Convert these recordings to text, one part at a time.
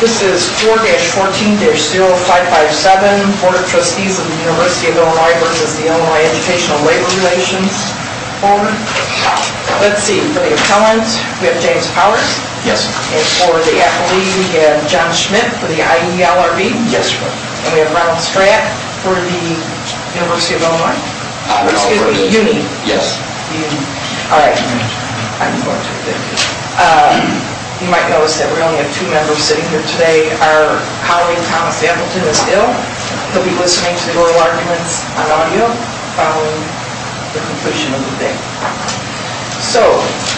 This is 4-14-0557, Board of Trustees of the University of Illinois v. Illinois Educational Labor Relations Board. Let's see, for the appellants, we have James Powers. Yes. And for the appellee, we have John Schmidt for the IELRB. Yes, sir. And we have Ronald Stratt for the University of Illinois. Excuse me, the UNI. Yes. The UNI. All right. 5-4-2-5-2. You might notice that we only have two members sitting here today. Our colleague, Thomas Hamilton, is ill. He'll be listening to the oral arguments on audio following the completion of the day. So,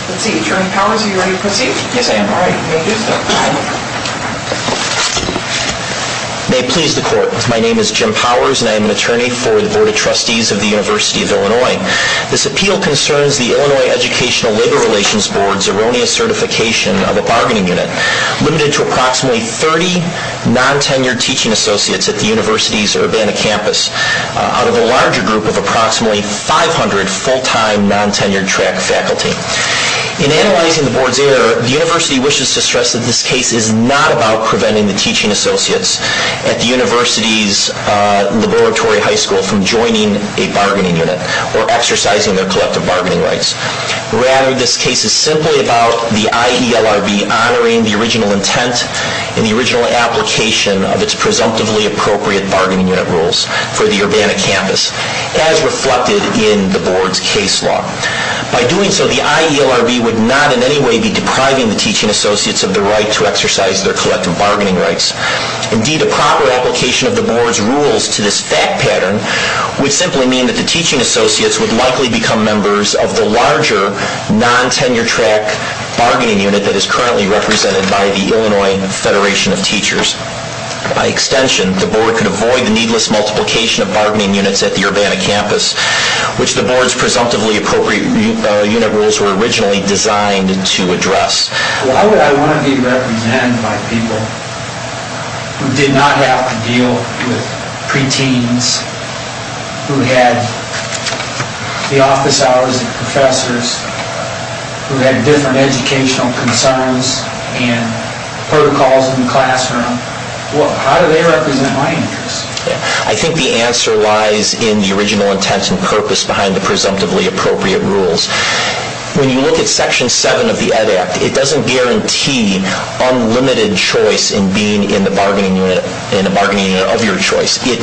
let's see, Attorney Powers, are you ready to proceed? Yes, I am. All right, you may do so. May it please the Court, my name is Jim Powers and I am an attorney for the Board of Trustees of the University of Illinois. This appeal concerns the Illinois Educational Labor Relations Board's erroneous certification of a bargaining unit limited to approximately 30 non-tenured teaching associates at the University's Urbana campus out of a larger group of approximately 500 full-time, non-tenured track faculty. In analyzing the Board's error, the University wishes to stress that this case is not about preventing the teaching associates at the University's laboratory high school from joining a bargaining unit or exercising their collective bargaining rights. Rather, this case is simply about the IELRB honoring the original intent and the original application of its presumptively appropriate bargaining unit rules for the Urbana campus, as reflected in the Board's case law. By doing so, the IELRB would not in any way be depriving the teaching associates of the right to exercise their collective bargaining rights. Indeed, a proper application of the Board's rules to this fact pattern would simply mean that the teaching associates would likely become members of the larger, non-tenured track bargaining unit that is currently represented by the Illinois Federation of Teachers. By extension, the Board could avoid the needless multiplication of bargaining units at the Urbana campus, which the Board's presumptively appropriate unit rules were originally designed to address. Why would I want to be represented by people who did not have to deal with pre-teens, who had the office hours of professors, who had different educational concerns and protocols in the classroom? How do they represent my interests? I think the answer lies in the original intent and purpose behind the presumptively appropriate rules. When you look at Section 7 of the Ed Act, it doesn't guarantee unlimited choice in being in a bargaining unit of your choice. It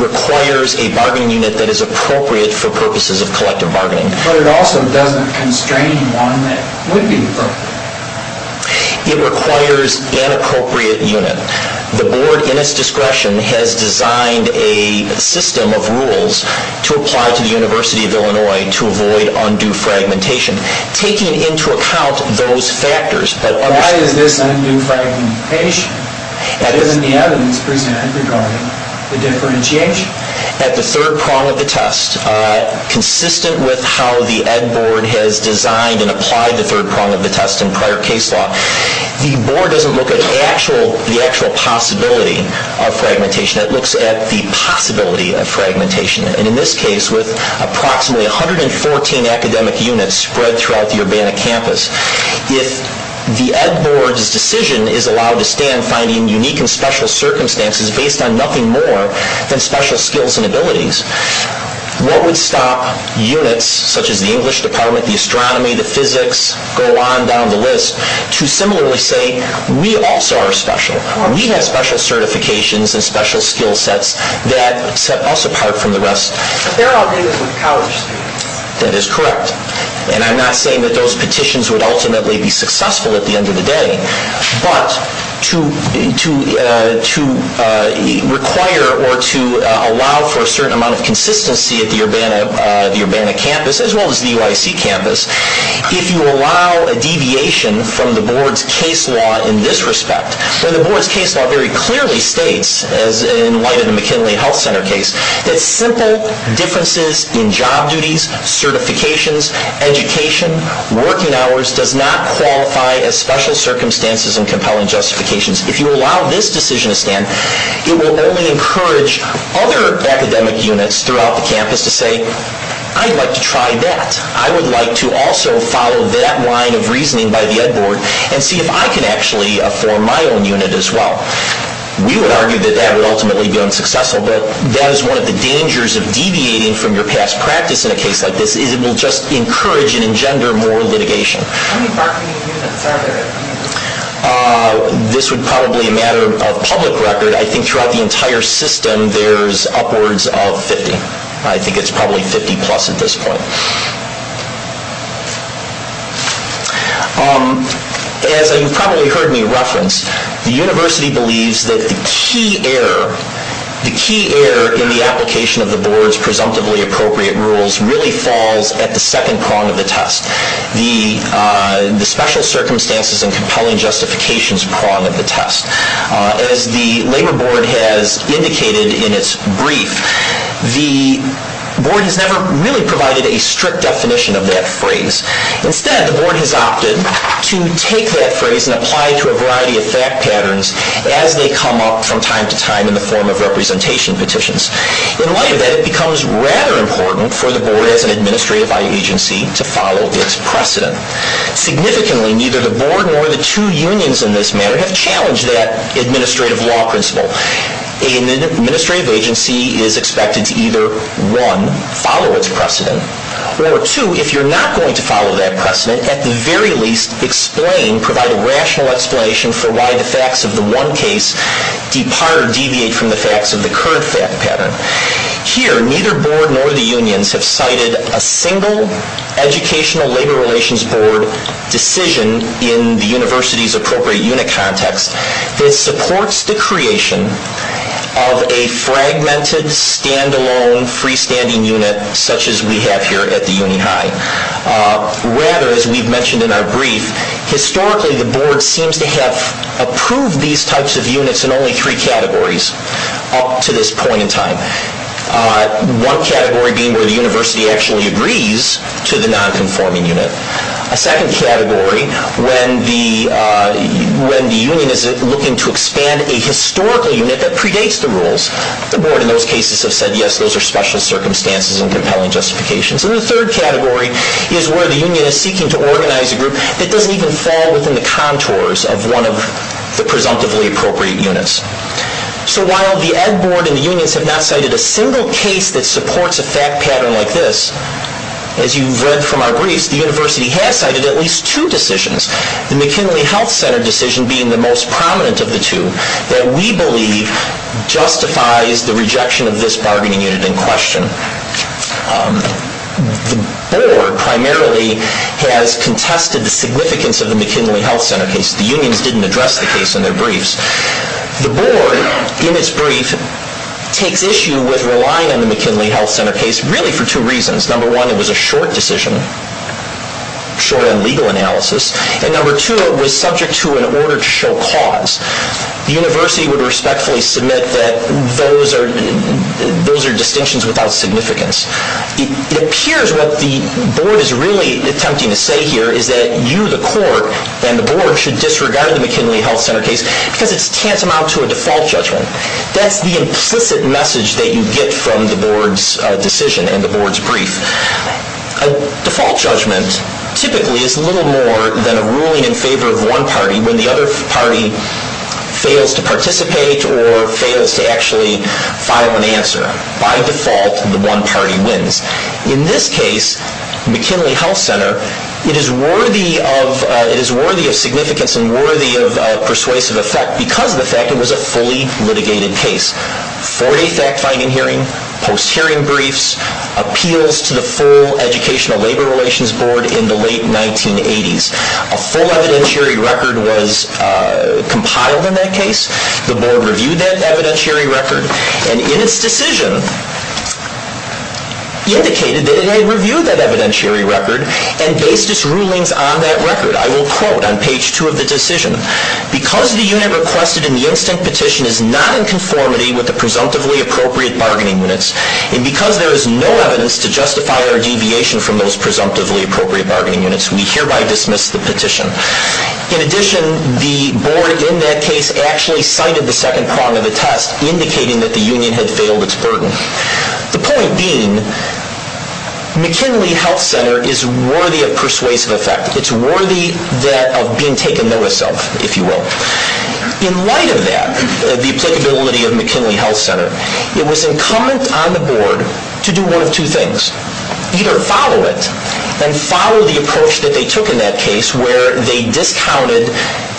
requires a bargaining unit that is appropriate for purposes of collective bargaining. But it also doesn't constrain one that would be appropriate. It requires an appropriate unit. The Board, in its discretion, has designed a system of rules to apply to the University of Illinois to avoid undue fragmentation. Taking into account those factors... But why is this undue fragmentation? That isn't the evidence presented regarding the differentiation. At the third prong of the test, consistent with how the Ed Board has designed and applied the third prong of the test in prior case law, the Board doesn't look at the actual possibility of fragmentation. It looks at the possibility of fragmentation. And in this case, with approximately 114 academic units spread throughout the Urbana campus, if the Ed Board's decision is allowed to stand finding unique and special circumstances based on nothing more than special skills and abilities, what would stop units such as the English department, the astronomy, the physics, go on down the list to similarly say, we also are special. We have special certifications and special skill sets that set us apart from the rest. But they're all doing this with college students. That is correct. And I'm not saying that those petitions would ultimately be successful at the end of the day. But to require or to allow for a certain amount of consistency at the Urbana campus, as well as the UIC campus, if you allow a deviation from the Board's case law in this respect, where the Board's case law very clearly states, in light of the McKinley Health Center case, that simple differences in job duties, certifications, education, working hours does not qualify as special circumstances and compelling justifications. If you allow this decision to stand, it will only encourage other academic units throughout the campus to say, I'd like to try that. I would like to also follow that line of reasoning by the Ed Board and see if I can actually form my own unit as well. We would argue that that would ultimately be unsuccessful. But that is one of the dangers of deviating from your past practice in a case like this, is it will just encourage and engender more litigation. How many Barclay units are there? This would probably a matter of public record. I think throughout the entire system, there's upwards of 50. I think it's probably 50-plus at this point. As you've probably heard me reference, the University believes that the key error in the application of the Board's presumptively appropriate rules really falls at the second prong of the test, the special circumstances and compelling justifications prong of the test. As the Labor Board has indicated in its brief, the Board has never really provided a strict definition of that phrase. Instead, the Board has opted to take that phrase and apply it to a variety of fact patterns as they come up from time to time in the form of representation petitions. In light of that, it becomes rather important for the Board as an administrative agency to follow its precedent. Significantly, neither the Board nor the two unions in this matter have challenged that administrative law principle. An administrative agency is expected to either, one, follow its precedent, or two, if you're not going to follow that precedent, at the very least explain, provide a rational explanation for why the facts of the one case depart or deviate from the facts of the current fact pattern. Here, neither Board nor the unions have cited a single Educational Labor Relations Board decision in the University's appropriate unit context that supports the creation of a fragmented, stand-alone, free-standing unit such as we have here at the Uni High. Rather, as we've mentioned in our brief, historically the Board seems to have approved these types of units in only three categories up to this point in time. One category being where the University actually agrees to the non-conforming unit. A second category, when the union is looking to expand a historical unit that predates the rules, the Board in those cases have said, yes, those are special circumstances and compelling justifications. And the third category is where the union is seeking to organize a group that doesn't even fall within the contours of one of the presumptively appropriate units. So while the Ed Board and the unions have not cited a single case that supports a fact pattern like this, as you've read from our briefs, the University has cited at least two decisions, the McKinley Health Center decision being the most prominent of the two, that we believe justifies the rejection of this bargaining unit in question. The Board primarily has contested the significance of the McKinley Health Center case. The unions didn't address the case in their briefs. The Board, in its brief, takes issue with relying on the McKinley Health Center case really for two reasons. Number one, it was a short decision, short on legal analysis. And number two, it was subject to an order to show cause. The University would respectfully submit that those are distinctions without significance. It appears what the Board is really attempting to say here is that you, the Court, and the Board should disregard the McKinley Health Center case because it's tantamount to a default judgment. That's the implicit message that you get from the Board's decision and the Board's brief. A default judgment typically is little more than a ruling in favor of one party when the other party fails to participate or fails to actually file an answer. By default, the one party wins. In this case, McKinley Health Center, it is worthy of significance and worthy of persuasive effect because of the fact it was a fully litigated case. Four-day fact-finding hearing, post-hearing briefs, appeals to the full Educational Labor Relations Board in the late 1980s. A full evidentiary record was compiled in that case. The Board reviewed that evidentiary record. And in its decision, indicated that it had reviewed that evidentiary record and based its rulings on that record. I will quote on page two of the decision. Because the unit requested in the instant petition is not in conformity with the presumptively appropriate bargaining units, and because there is no evidence to justify our deviation from those presumptively appropriate bargaining units, we hereby dismiss the petition. In addition, the Board in that case actually cited the second prong of the test, indicating that the union had failed its burden. The point being, McKinley Health Center is worthy of persuasive effect. It's worthy of being taken notice of, if you will. In light of that, the applicability of McKinley Health Center, it was incumbent on the Board to do one of two things. Either follow it and follow the approach that they took in that case, where they discounted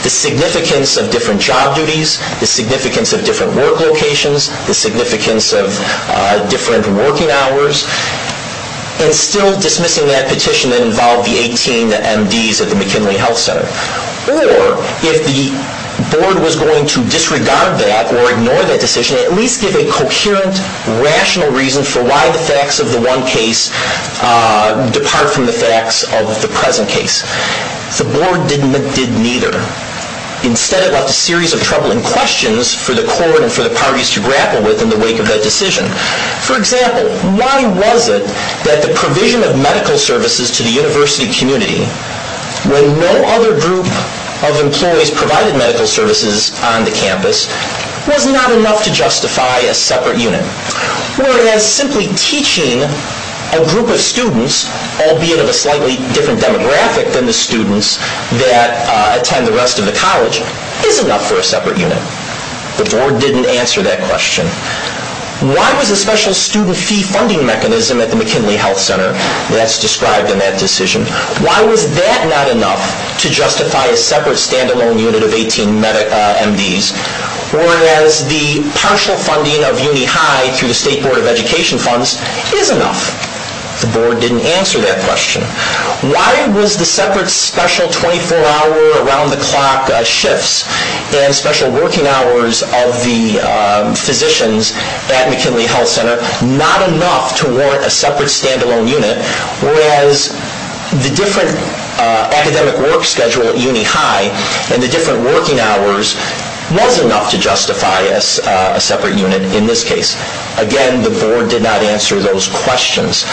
the significance of different job duties, the significance of different work locations, the significance of different working hours, and still dismissing that petition that involved the 18 MDs at the McKinley Health Center. Or, if the Board was going to disregard that or ignore that decision, to at least give a coherent, rational reason for why the facts of the one case depart from the facts of the present case. The Board did neither. Instead, it left a series of troubling questions for the court and for the parties to grapple with in the wake of that decision. For example, why was it that the provision of medical services to the university community, when no other group of employees provided medical services on the campus, was not enough to justify a separate unit? Whereas, simply teaching a group of students, albeit of a slightly different demographic than the students that attend the rest of the college, is enough for a separate unit? The Board didn't answer that question. Why was a special student fee funding mechanism at the McKinley Health Center, that's described in that decision, why was that not enough to justify a separate, stand-alone unit of 18 MDs? Whereas, the partial funding of Uni High through the State Board of Education funds is enough? The Board didn't answer that question. Why was the separate, special 24-hour, around-the-clock shifts and special working hours of the physicians at McKinley Health Center not enough to warrant a separate, stand-alone unit? Whereas, the different academic work schedule at Uni High and the different working hours was enough to justify a separate unit in this case? Again, the Board did not answer those questions.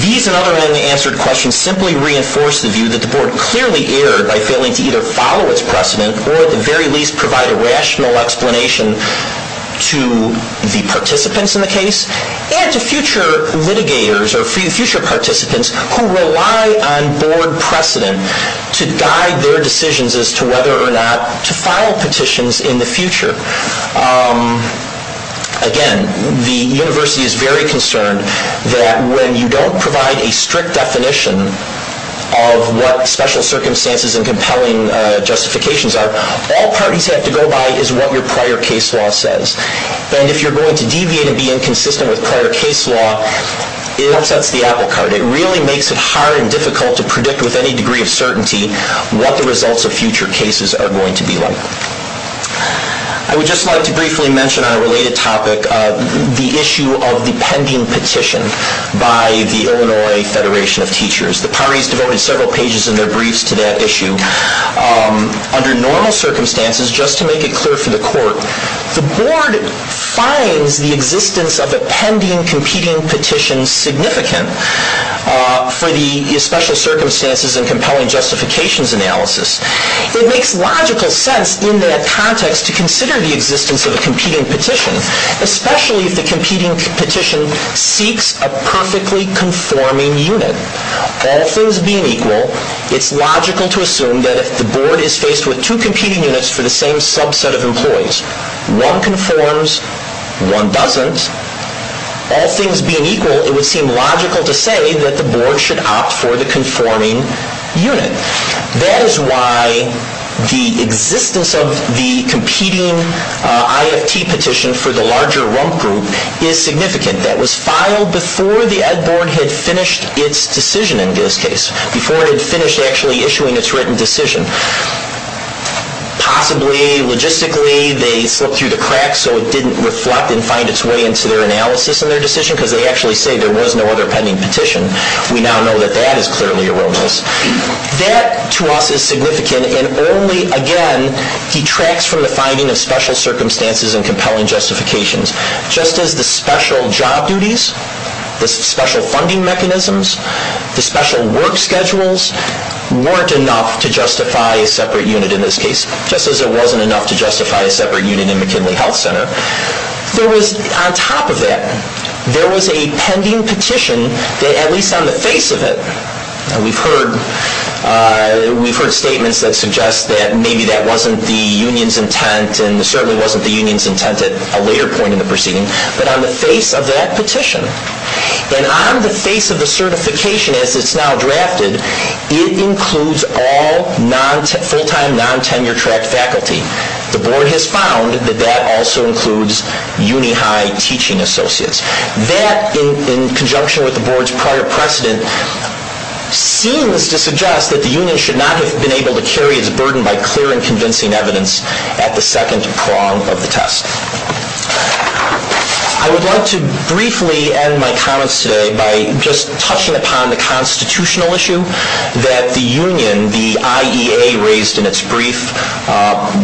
These and other unanswered questions simply reinforce the view that the Board clearly erred by failing to either follow its precedent or, at the very least, provide a rational explanation to the participants in the case and to future litigators or future participants who rely on Board precedent to guide their decisions as to whether or not to file petitions in the future. Again, the University is very concerned that when you don't provide a strict definition of what special circumstances and compelling justifications are, all parties have to go by is what your prior case law says. And if you're going to deviate and be inconsistent with prior case law, it upsets the apple cart. It really makes it hard and difficult to predict with any degree of certainty what the results of future cases are going to be like. I would just like to briefly mention on a related topic the issue of the pending petition by the Illinois Federation of Teachers. The parties devoted several pages in their briefs to that issue. Under normal circumstances, just to make it clear for the Court, the Board finds the existence of a pending competing petition significant for the special circumstances and compelling justifications analysis. It makes logical sense in that context to consider the existence of a competing petition, especially if the competing petition seeks a perfectly conforming unit. All things being equal, it's logical to assume that if the Board is faced with two competing units for the same subset of employees, one conforms, one doesn't. All things being equal, it would seem logical to say that the Board should opt for the conforming unit. That is why the existence of the competing IFT petition for the larger rump group is significant. That was filed before the Ed Board had finished its decision in this case, before it had finished actually issuing its written decision. Possibly, logistically, they slipped through the cracks so it didn't reflect and find its way into their analysis in their decision, because they actually say there was no other pending petition. We now know that that is clearly erroneous. That, to us, is significant and only, again, detracts from the finding of special circumstances and compelling justifications. Just as the special job duties, the special funding mechanisms, the special work schedules weren't enough to justify a separate unit in this case, just as it wasn't enough to justify a separate unit in McKinley Health Center, on top of that, there was a pending petition that, at least on the face of it, we've heard statements that suggest that maybe that wasn't the union's intent and it certainly wasn't the union's intent at a later point in the proceeding, but on the face of that petition and on the face of the certification as it's now drafted, it includes all full-time, non-tenure-track faculty. The board has found that that also includes uni-high teaching associates. That, in conjunction with the board's prior precedent, seems to suggest that the union should not have been able to carry its burden by clear and convincing evidence at the second prong of the test. I would like to briefly end my comments today by just touching upon the constitutional issue that the union, the IEA raised in its brief,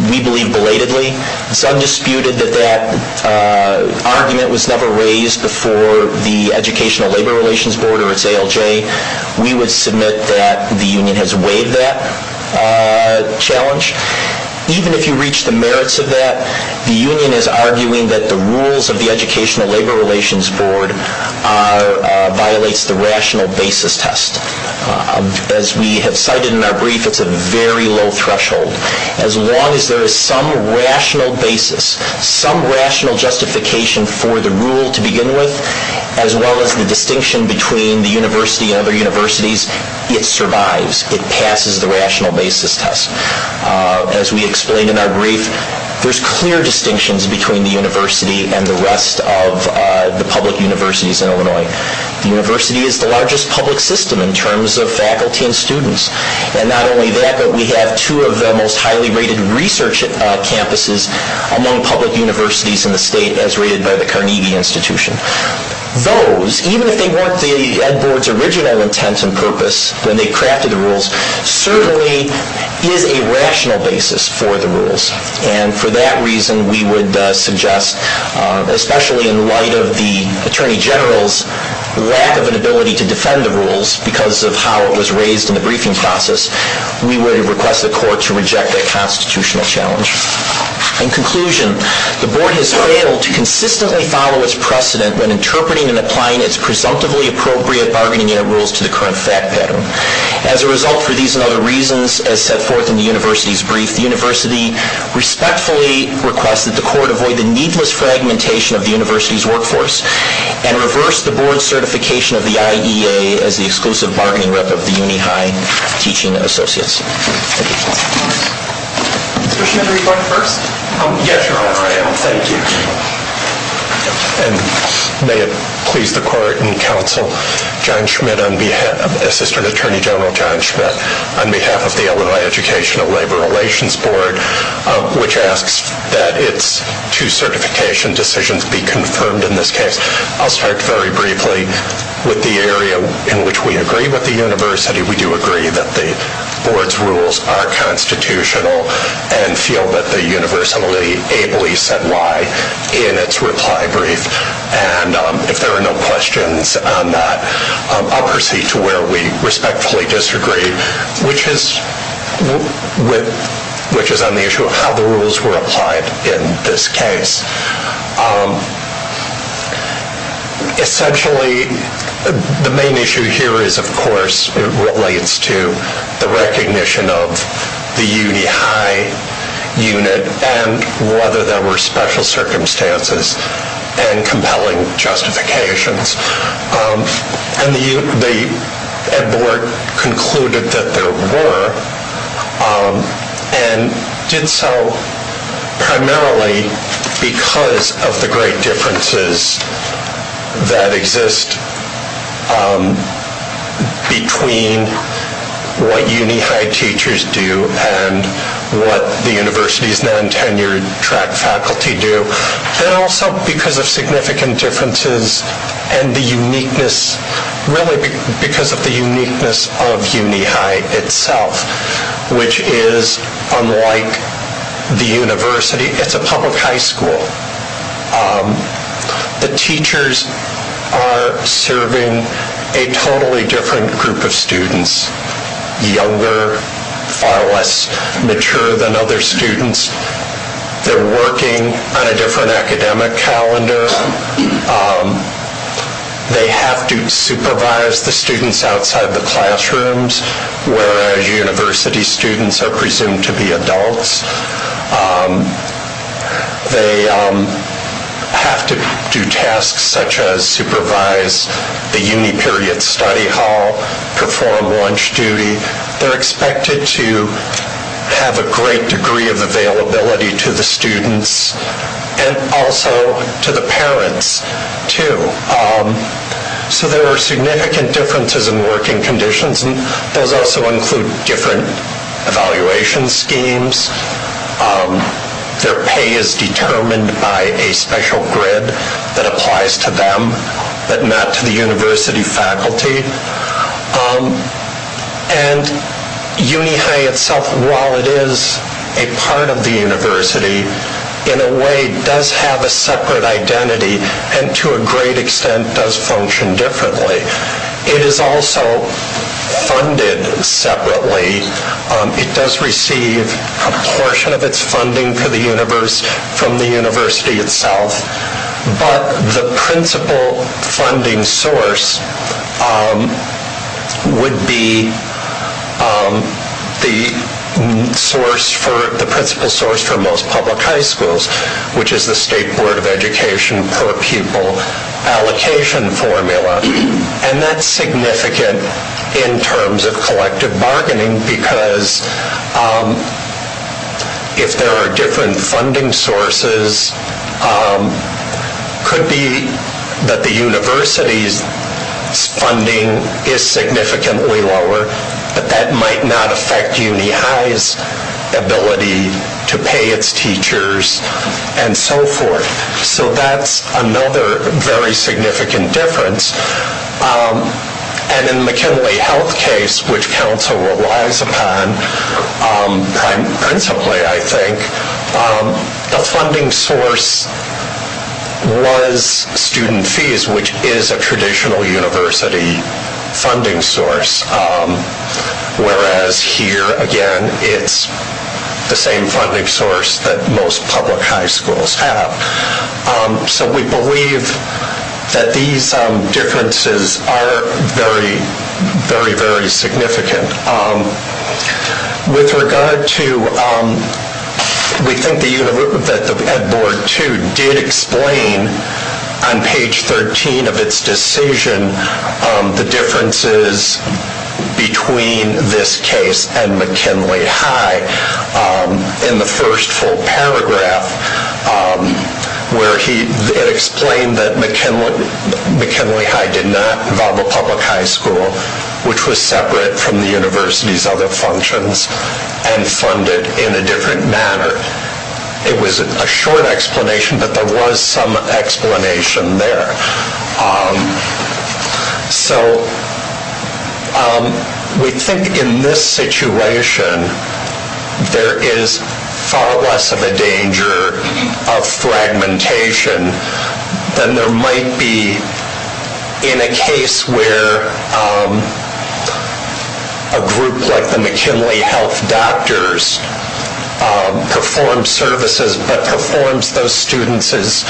we believe belatedly. It's undisputed that that argument was never raised before the Educational Labor Relations Board or its ALJ. We would submit that the union has waived that challenge. Even if you reach the merits of that, the union is arguing that the rules of the Educational Labor Relations Board violates the rational basis test. As we have cited in our brief, it's a very low threshold. As long as there is some rational basis, some rational justification for the rule to begin with, as well as the distinction between the university and other universities, it survives. It passes the rational basis test. As we explained in our brief, there are clear distinctions between the university and the rest of the public universities in Illinois. The university is the largest public system in terms of faculty and students. And not only that, but we have two of the most highly rated research campuses among public universities in the state, as rated by the Carnegie Institution. Those, even if they weren't the Ed. Board's original intent and purpose when they crafted the rules, certainly is a rational basis for the rules. And for that reason, we would suggest, especially in light of the Attorney General's lack of an ability to defend the rules because of how it was raised in the briefing process, we would request the court to reject that constitutional challenge. In conclusion, the Board has failed to consistently follow its precedent when interpreting and applying its presumptively appropriate bargaining rules to the current fact pattern. As a result, for these and other reasons, as set forth in the university's brief, the university respectfully requests that the court avoid the needless fragmentation of the university's workforce and reverse the Board's certification of the IEA as the exclusive bargaining rep of the Uni High Teaching Associates. Mr. Schmidt, are you going first? Yes, Your Honor, I am. Thank you. And may it please the court and counsel, John Schmidt, Assistant Attorney General John Schmidt, on behalf of the Illinois Educational Labor Relations Board, which asks that its two certification decisions be confirmed in this case. I'll start very briefly with the area in which we agree with the university. We do agree that the Board's rules are constitutional and feel that the university ably said why in its reply brief. And if there are no questions on that, I'll proceed to where we respectfully disagree, which is on the issue of how the rules were applied in this case. Essentially, the main issue here is, of course, relates to the recognition of the Uni High unit and whether there were special circumstances and compelling justifications. And the Board concluded that there were and did so primarily because of the great differences that exist between what Uni High teachers do and what the university's non-tenured track faculty do. And also because of significant differences and the uniqueness, really because of the uniqueness of Uni High itself, which is unlike the university, it's a public high school. The teachers are serving a totally different group of students, younger, far less mature than other students. They're working on a different academic calendar. They have to supervise the students outside the classrooms, whereas university students are presumed to be adults. They have to do tasks such as supervise the uni period study hall, perform lunch duty. They're expected to have a great degree of availability to the students and also to the parents, too. So there are significant differences in working conditions, and those also include different evaluation schemes. Their pay is determined by a special grid that applies to them, but not to the university faculty. And Uni High itself, while it is a part of the university, in a way does have a separate identity and to a great extent does function differently. It is also funded separately. It does receive a portion of its funding from the university itself, but the principal funding source would be the principal source for most public high schools, which is the State Board of Education per pupil allocation formula. And that's significant in terms of collective bargaining, because if there are different funding sources, it could be that the university's funding is significantly lower, but that might not affect Uni High's ability to pay its teachers and so forth. So that's another very significant difference. And in the McKinley Health case, which Council relies upon principally, I think, the funding source was student fees, which is a traditional university funding source, whereas here, again, it's the same funding source that most public high schools have. So we believe that these differences are very, very, very significant. With regard to, we think that the Ed. Board, too, did explain on page 13 of its decision the differences between this case and McKinley High. In the first full paragraph, where it explained that McKinley High did not involve a public high school, which was separate from the university's other functions, and funded in a different manner. It was a short explanation, but there was some explanation there. So we think in this situation, there is far less of a danger of fragmentation than there might be in a case where a group like the McKinley Health doctors perform services, but performs those services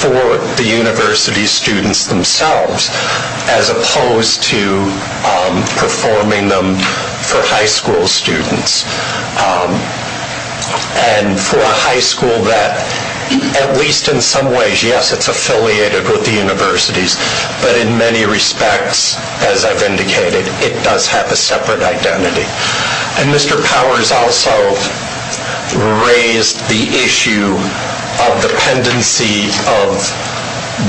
for the university students themselves, as opposed to performing them for high school students. And for a high school that, at least in some ways, yes, it's affiliated with the universities, but in many respects, as I've indicated, it does have a separate identity. And Mr. Powers also raised the issue of the pendency of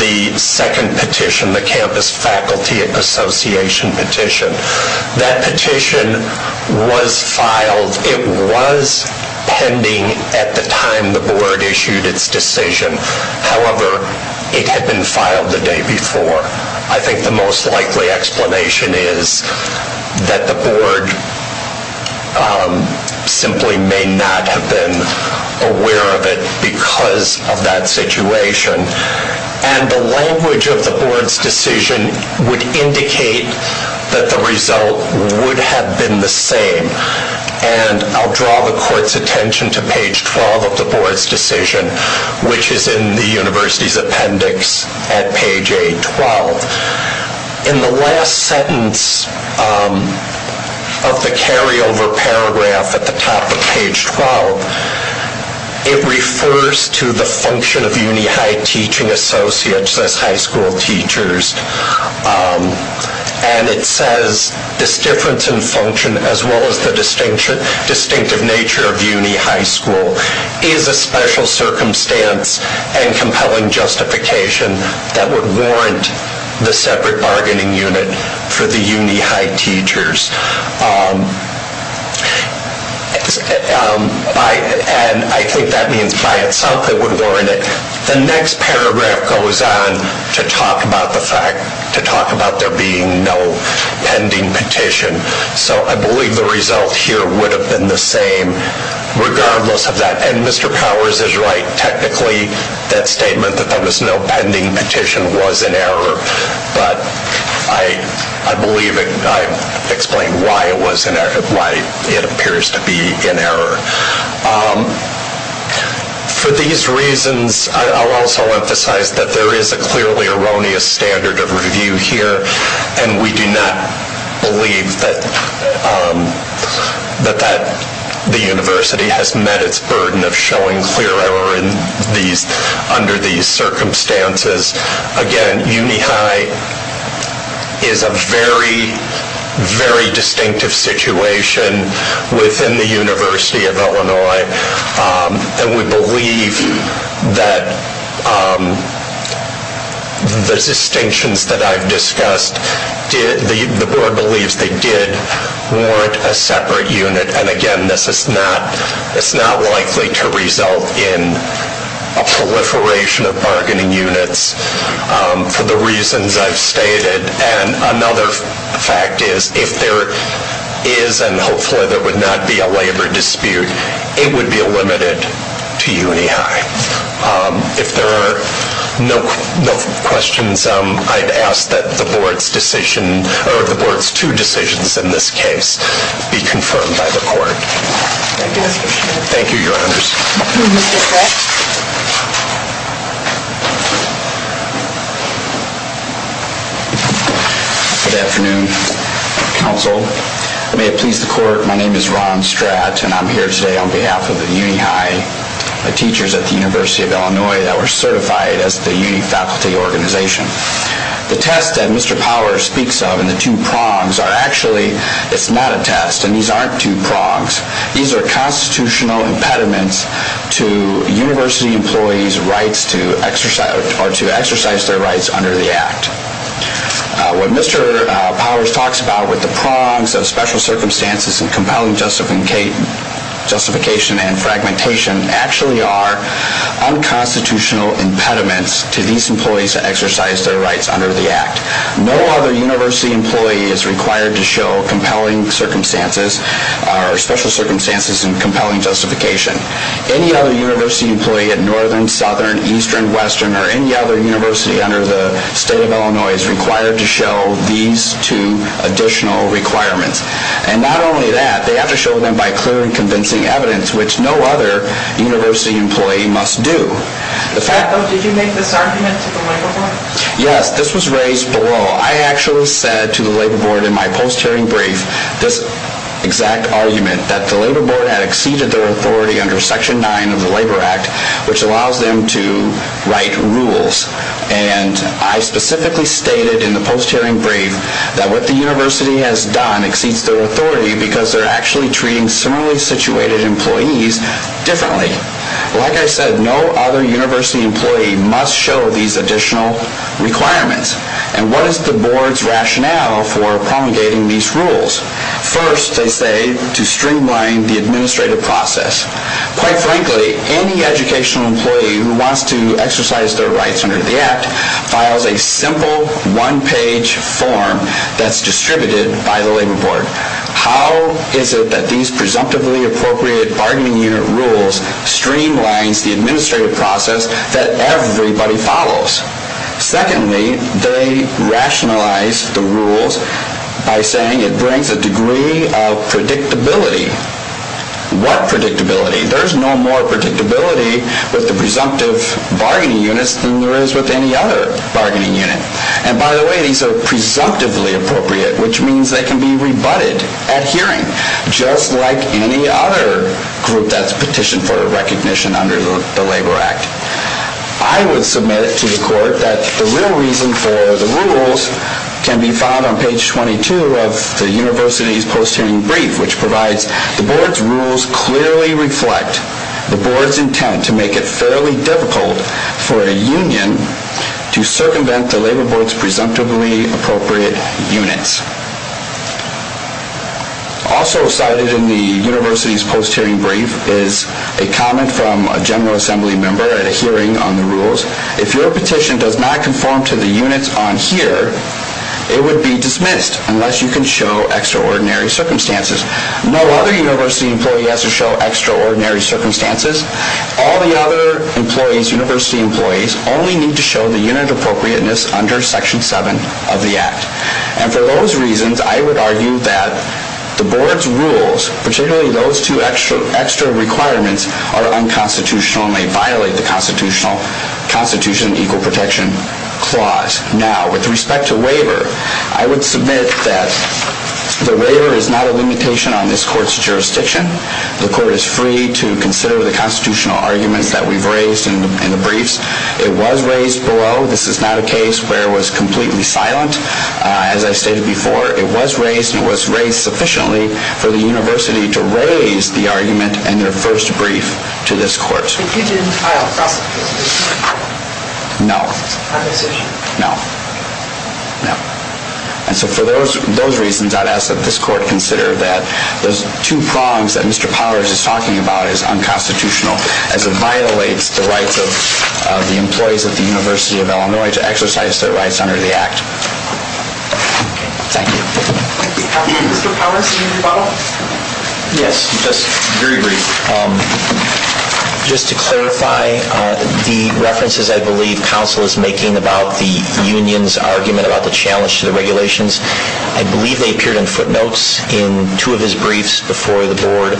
the second petition, the Campus Faculty Association petition. That petition was filed, it was pending at the time the Board issued its decision. However, it had been filed the day before. I think the most likely explanation is that the Board simply may not have been aware of it because of that situation. And the language of the Board's decision would indicate that the result would have been the same. And I'll draw the Court's attention to page 12 of the Board's decision, which is in the university's appendix at page 8-12. In the last sentence of the carryover paragraph at the top of page 12, it refers to the function of uni high teaching associates as high school teachers. And it says, this difference in function as well as the distinctive nature of uni high school is a special circumstance and compelling justification that would warrant the separate bargaining unit for the uni high teachers. And I think that means by itself it would warrant it. The next paragraph goes on to talk about the fact, to talk about there being no pending petition. So I believe the result here would have been the same regardless of that. And Mr. Powers is right. Technically, that statement that there was no pending petition was an error. But I believe I explained why it was an error, why it appears to be an error. For these reasons, I'll also emphasize that there is a clearly erroneous standard of review here. And we do not believe that the university has met its burden of showing clear error under these circumstances. Again, uni high is a very, very distinctive situation within the University of Illinois. And we believe that the distinctions that I've discussed, the board believes they did warrant a separate unit. And again, this is not likely to result in a proliferation of bargaining units for the reasons I've stated. And another fact is, if there is and hopefully there would not be a labor dispute, it would be limited to uni high. If there are no questions, I'd ask that the board's decision, or the board's two decisions in this case, be confirmed by the court. Thank you, your honors. Thank you, Mr. Stratt. Good afternoon, counsel. May it please the court, my name is Ron Stratt, and I'm here today on behalf of the uni high teachers at the University of Illinois that were certified as the uni faculty organization. The test that Mr. Power speaks of in the two prongs are actually, it's not a test, and these aren't two prongs. These are constitutional impediments to university employees' rights to exercise their rights under the act. What Mr. Powers talks about with the prongs of special circumstances and compelling justification and fragmentation actually are unconstitutional impediments to these employees to exercise their rights under the act. No other university employee is required to show special circumstances and compelling justification. Any other university employee at northern, southern, eastern, western, or any other university under the state of Illinois is required to show these two additional requirements. And not only that, they have to show them by clear and convincing evidence, which no other university employee must do. Did you make this argument to the labor board? Yes, this was raised below. I actually said to the labor board in my post-hearing brief this exact argument, that the labor board had exceeded their authority under section 9 of the labor act, which allows them to write rules. And I specifically stated in the post-hearing brief that what the university has done exceeds their authority because they're actually treating similarly situated employees differently. Like I said, no other university employee must show these additional requirements. And what is the board's rationale for promulgating these rules? First, they say, to streamline the administrative process. Quite frankly, any educational employee who wants to exercise their rights under the act files a simple one-page form that's distributed by the labor board. How is it that these presumptively appropriate bargaining unit rules streamlines the administrative process that everybody follows? Secondly, they rationalize the rules by saying it brings a degree of predictability. What predictability? There's no more predictability with the presumptive bargaining units than there is with any other bargaining unit. And by the way, these are presumptively appropriate, which means they can be rebutted at hearing, just like any other group that's petitioned for recognition under the labor act. I would submit to the court that the real reason for the rules can be found on page 22 of the university's post-hearing brief, which provides the board's rules clearly reflect the board's intent to make it fairly difficult for a union to circumvent the labor board's presumptively appropriate units. Also cited in the university's post-hearing brief is a comment from a general assembly member at a hearing on the rules. If your petition does not conform to the units on here, it would be dismissed unless you can show extraordinary circumstances. No other university employee has to show extraordinary circumstances. All the other university employees only need to show the unit appropriateness under section 7 of the act. And for those reasons, I would argue that the board's rules, particularly those two extra requirements, are unconstitutional and may violate the Constitutional Constitution Equal Protection Clause. Now, with respect to waiver, I would submit that the waiver is not a limitation on this court's jurisdiction. The court is free to consider the constitutional arguments that we've raised in the briefs. It was raised below. This is not a case where it was completely silent. As I stated before, it was raised and it was raised sufficiently for the university to raise the argument in their first brief to this court. No. No. No. And so for those reasons, I would ask that this court consider that those two prongs that Mr. Powers is talking about is unconstitutional as it violates the rights of the employees of the University of Illinois to exercise their rights under the act. Thank you. Mr. Powers, do you have a follow-up? Yes, just very brief. Just to clarify, the references I believe counsel is making about the union's argument about the challenge to the regulations, I believe they appeared in footnotes in two of his briefs before the board.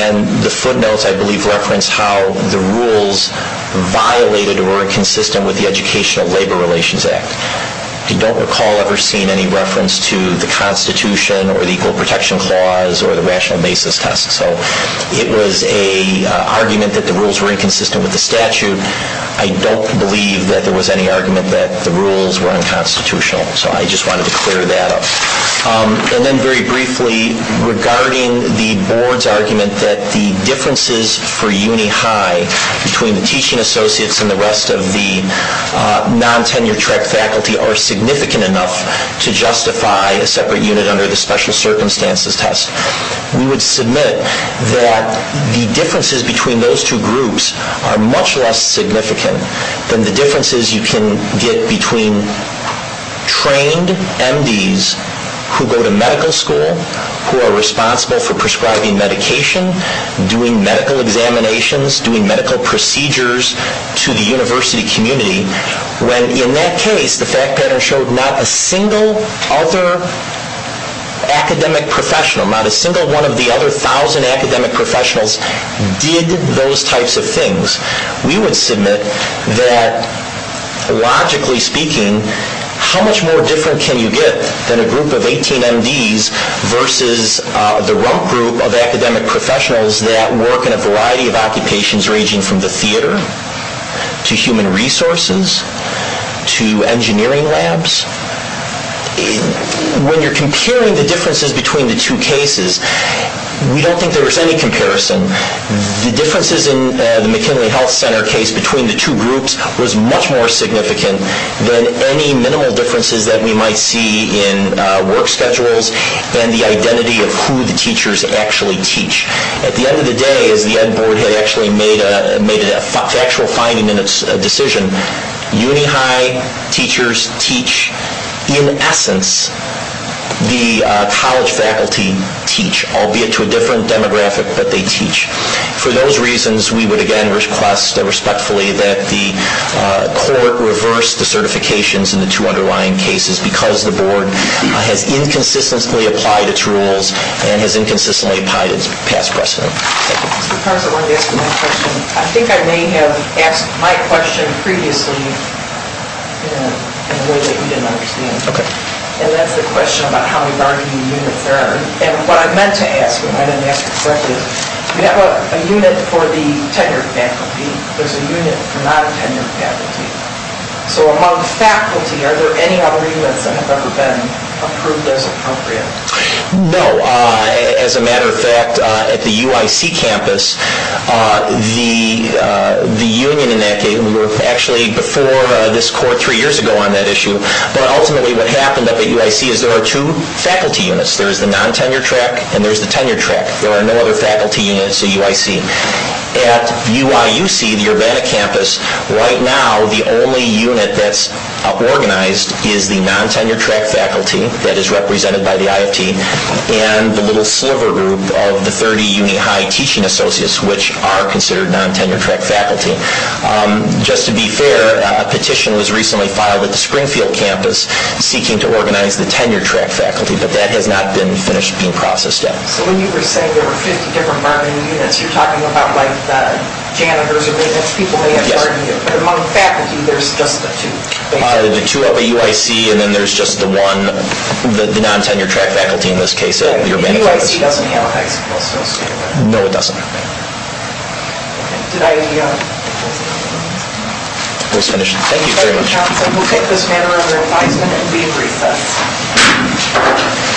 And the footnotes, I believe, reference how the rules violated or were inconsistent with the Educational Labor Relations Act. I don't recall ever seeing any reference to the Constitution or the Equal Protection Clause or the rational basis test. So it was an argument that the rules were inconsistent with the statute. I don't believe that there was any argument that the rules were unconstitutional. So I just wanted to clear that up. And then very briefly, regarding the board's argument that the differences for uni high between the teaching associates and the rest of the non-tenure track faculty are significant enough to justify a separate unit under the special circumstances test. We would submit that the differences between those two groups are much less significant than the differences you can get between trained MDs who go to medical school, who are responsible for prescribing medication, doing medical examinations, doing medical procedures to the university community. When in that case, the fact pattern showed not a single other academic professional, not a single one of the other 1,000 academic professionals, did those types of things. We would submit that, logically speaking, how much more different can you get than a group of 18 MDs versus the rump group of academic professionals that work in a variety of occupations ranging from the theater to human resources to engineering labs? When you're comparing the differences between the two cases, we don't think there was any comparison. The differences in the McKinley Health Center case between the two groups was much more significant than any minimal differences that we might see in work schedules and the identity of who the teachers actually teach. At the end of the day, as the ed board had actually made a factual finding in its decision, uni high teachers teach. In essence, the college faculty teach, albeit to a different demographic, but they teach. For those reasons, we would again request respectfully that the court reverse the certifications in the two underlying cases because the board has inconsistently applied its rules and has inconsistently applied its past precedent. I think I may have asked my question previously in a way that you didn't understand. That's the question about how we bargain units. What I meant to ask, and I didn't ask it correctly, is we have a unit for the tenured faculty. There's a unit for non-tenured faculty. Among faculty, are there any other units that have ever been approved as appropriate? No. As a matter of fact, at the UIC campus, the union in that case, we were actually before this court three years ago on that issue, but ultimately what happened at the UIC is there are two faculty units. There's the non-tenured track and there's the tenured track. There are no other faculty units at UIC. At UIUC, the Urbana campus, right now the only unit that's organized is the non-tenured track faculty that is represented by the IFT and the little sliver group of the 30 uni high teaching associates, which are considered non-tenured track faculty. Just to be fair, a petition was recently filed at the Springfield campus seeking to organize the tenured track faculty, but that has not been finished being processed yet. So when you were saying there were 50 different bargaining units, you're talking about janitors or maintenance people? Yes. But among faculty, there's just the two? There's the two at UIC and then there's just the one, the non-tenured track faculty in this case at Urbana. The UIC doesn't have a high school associate? No, it doesn't. Thank you very much. We'll take this matter under advisement and leave recess.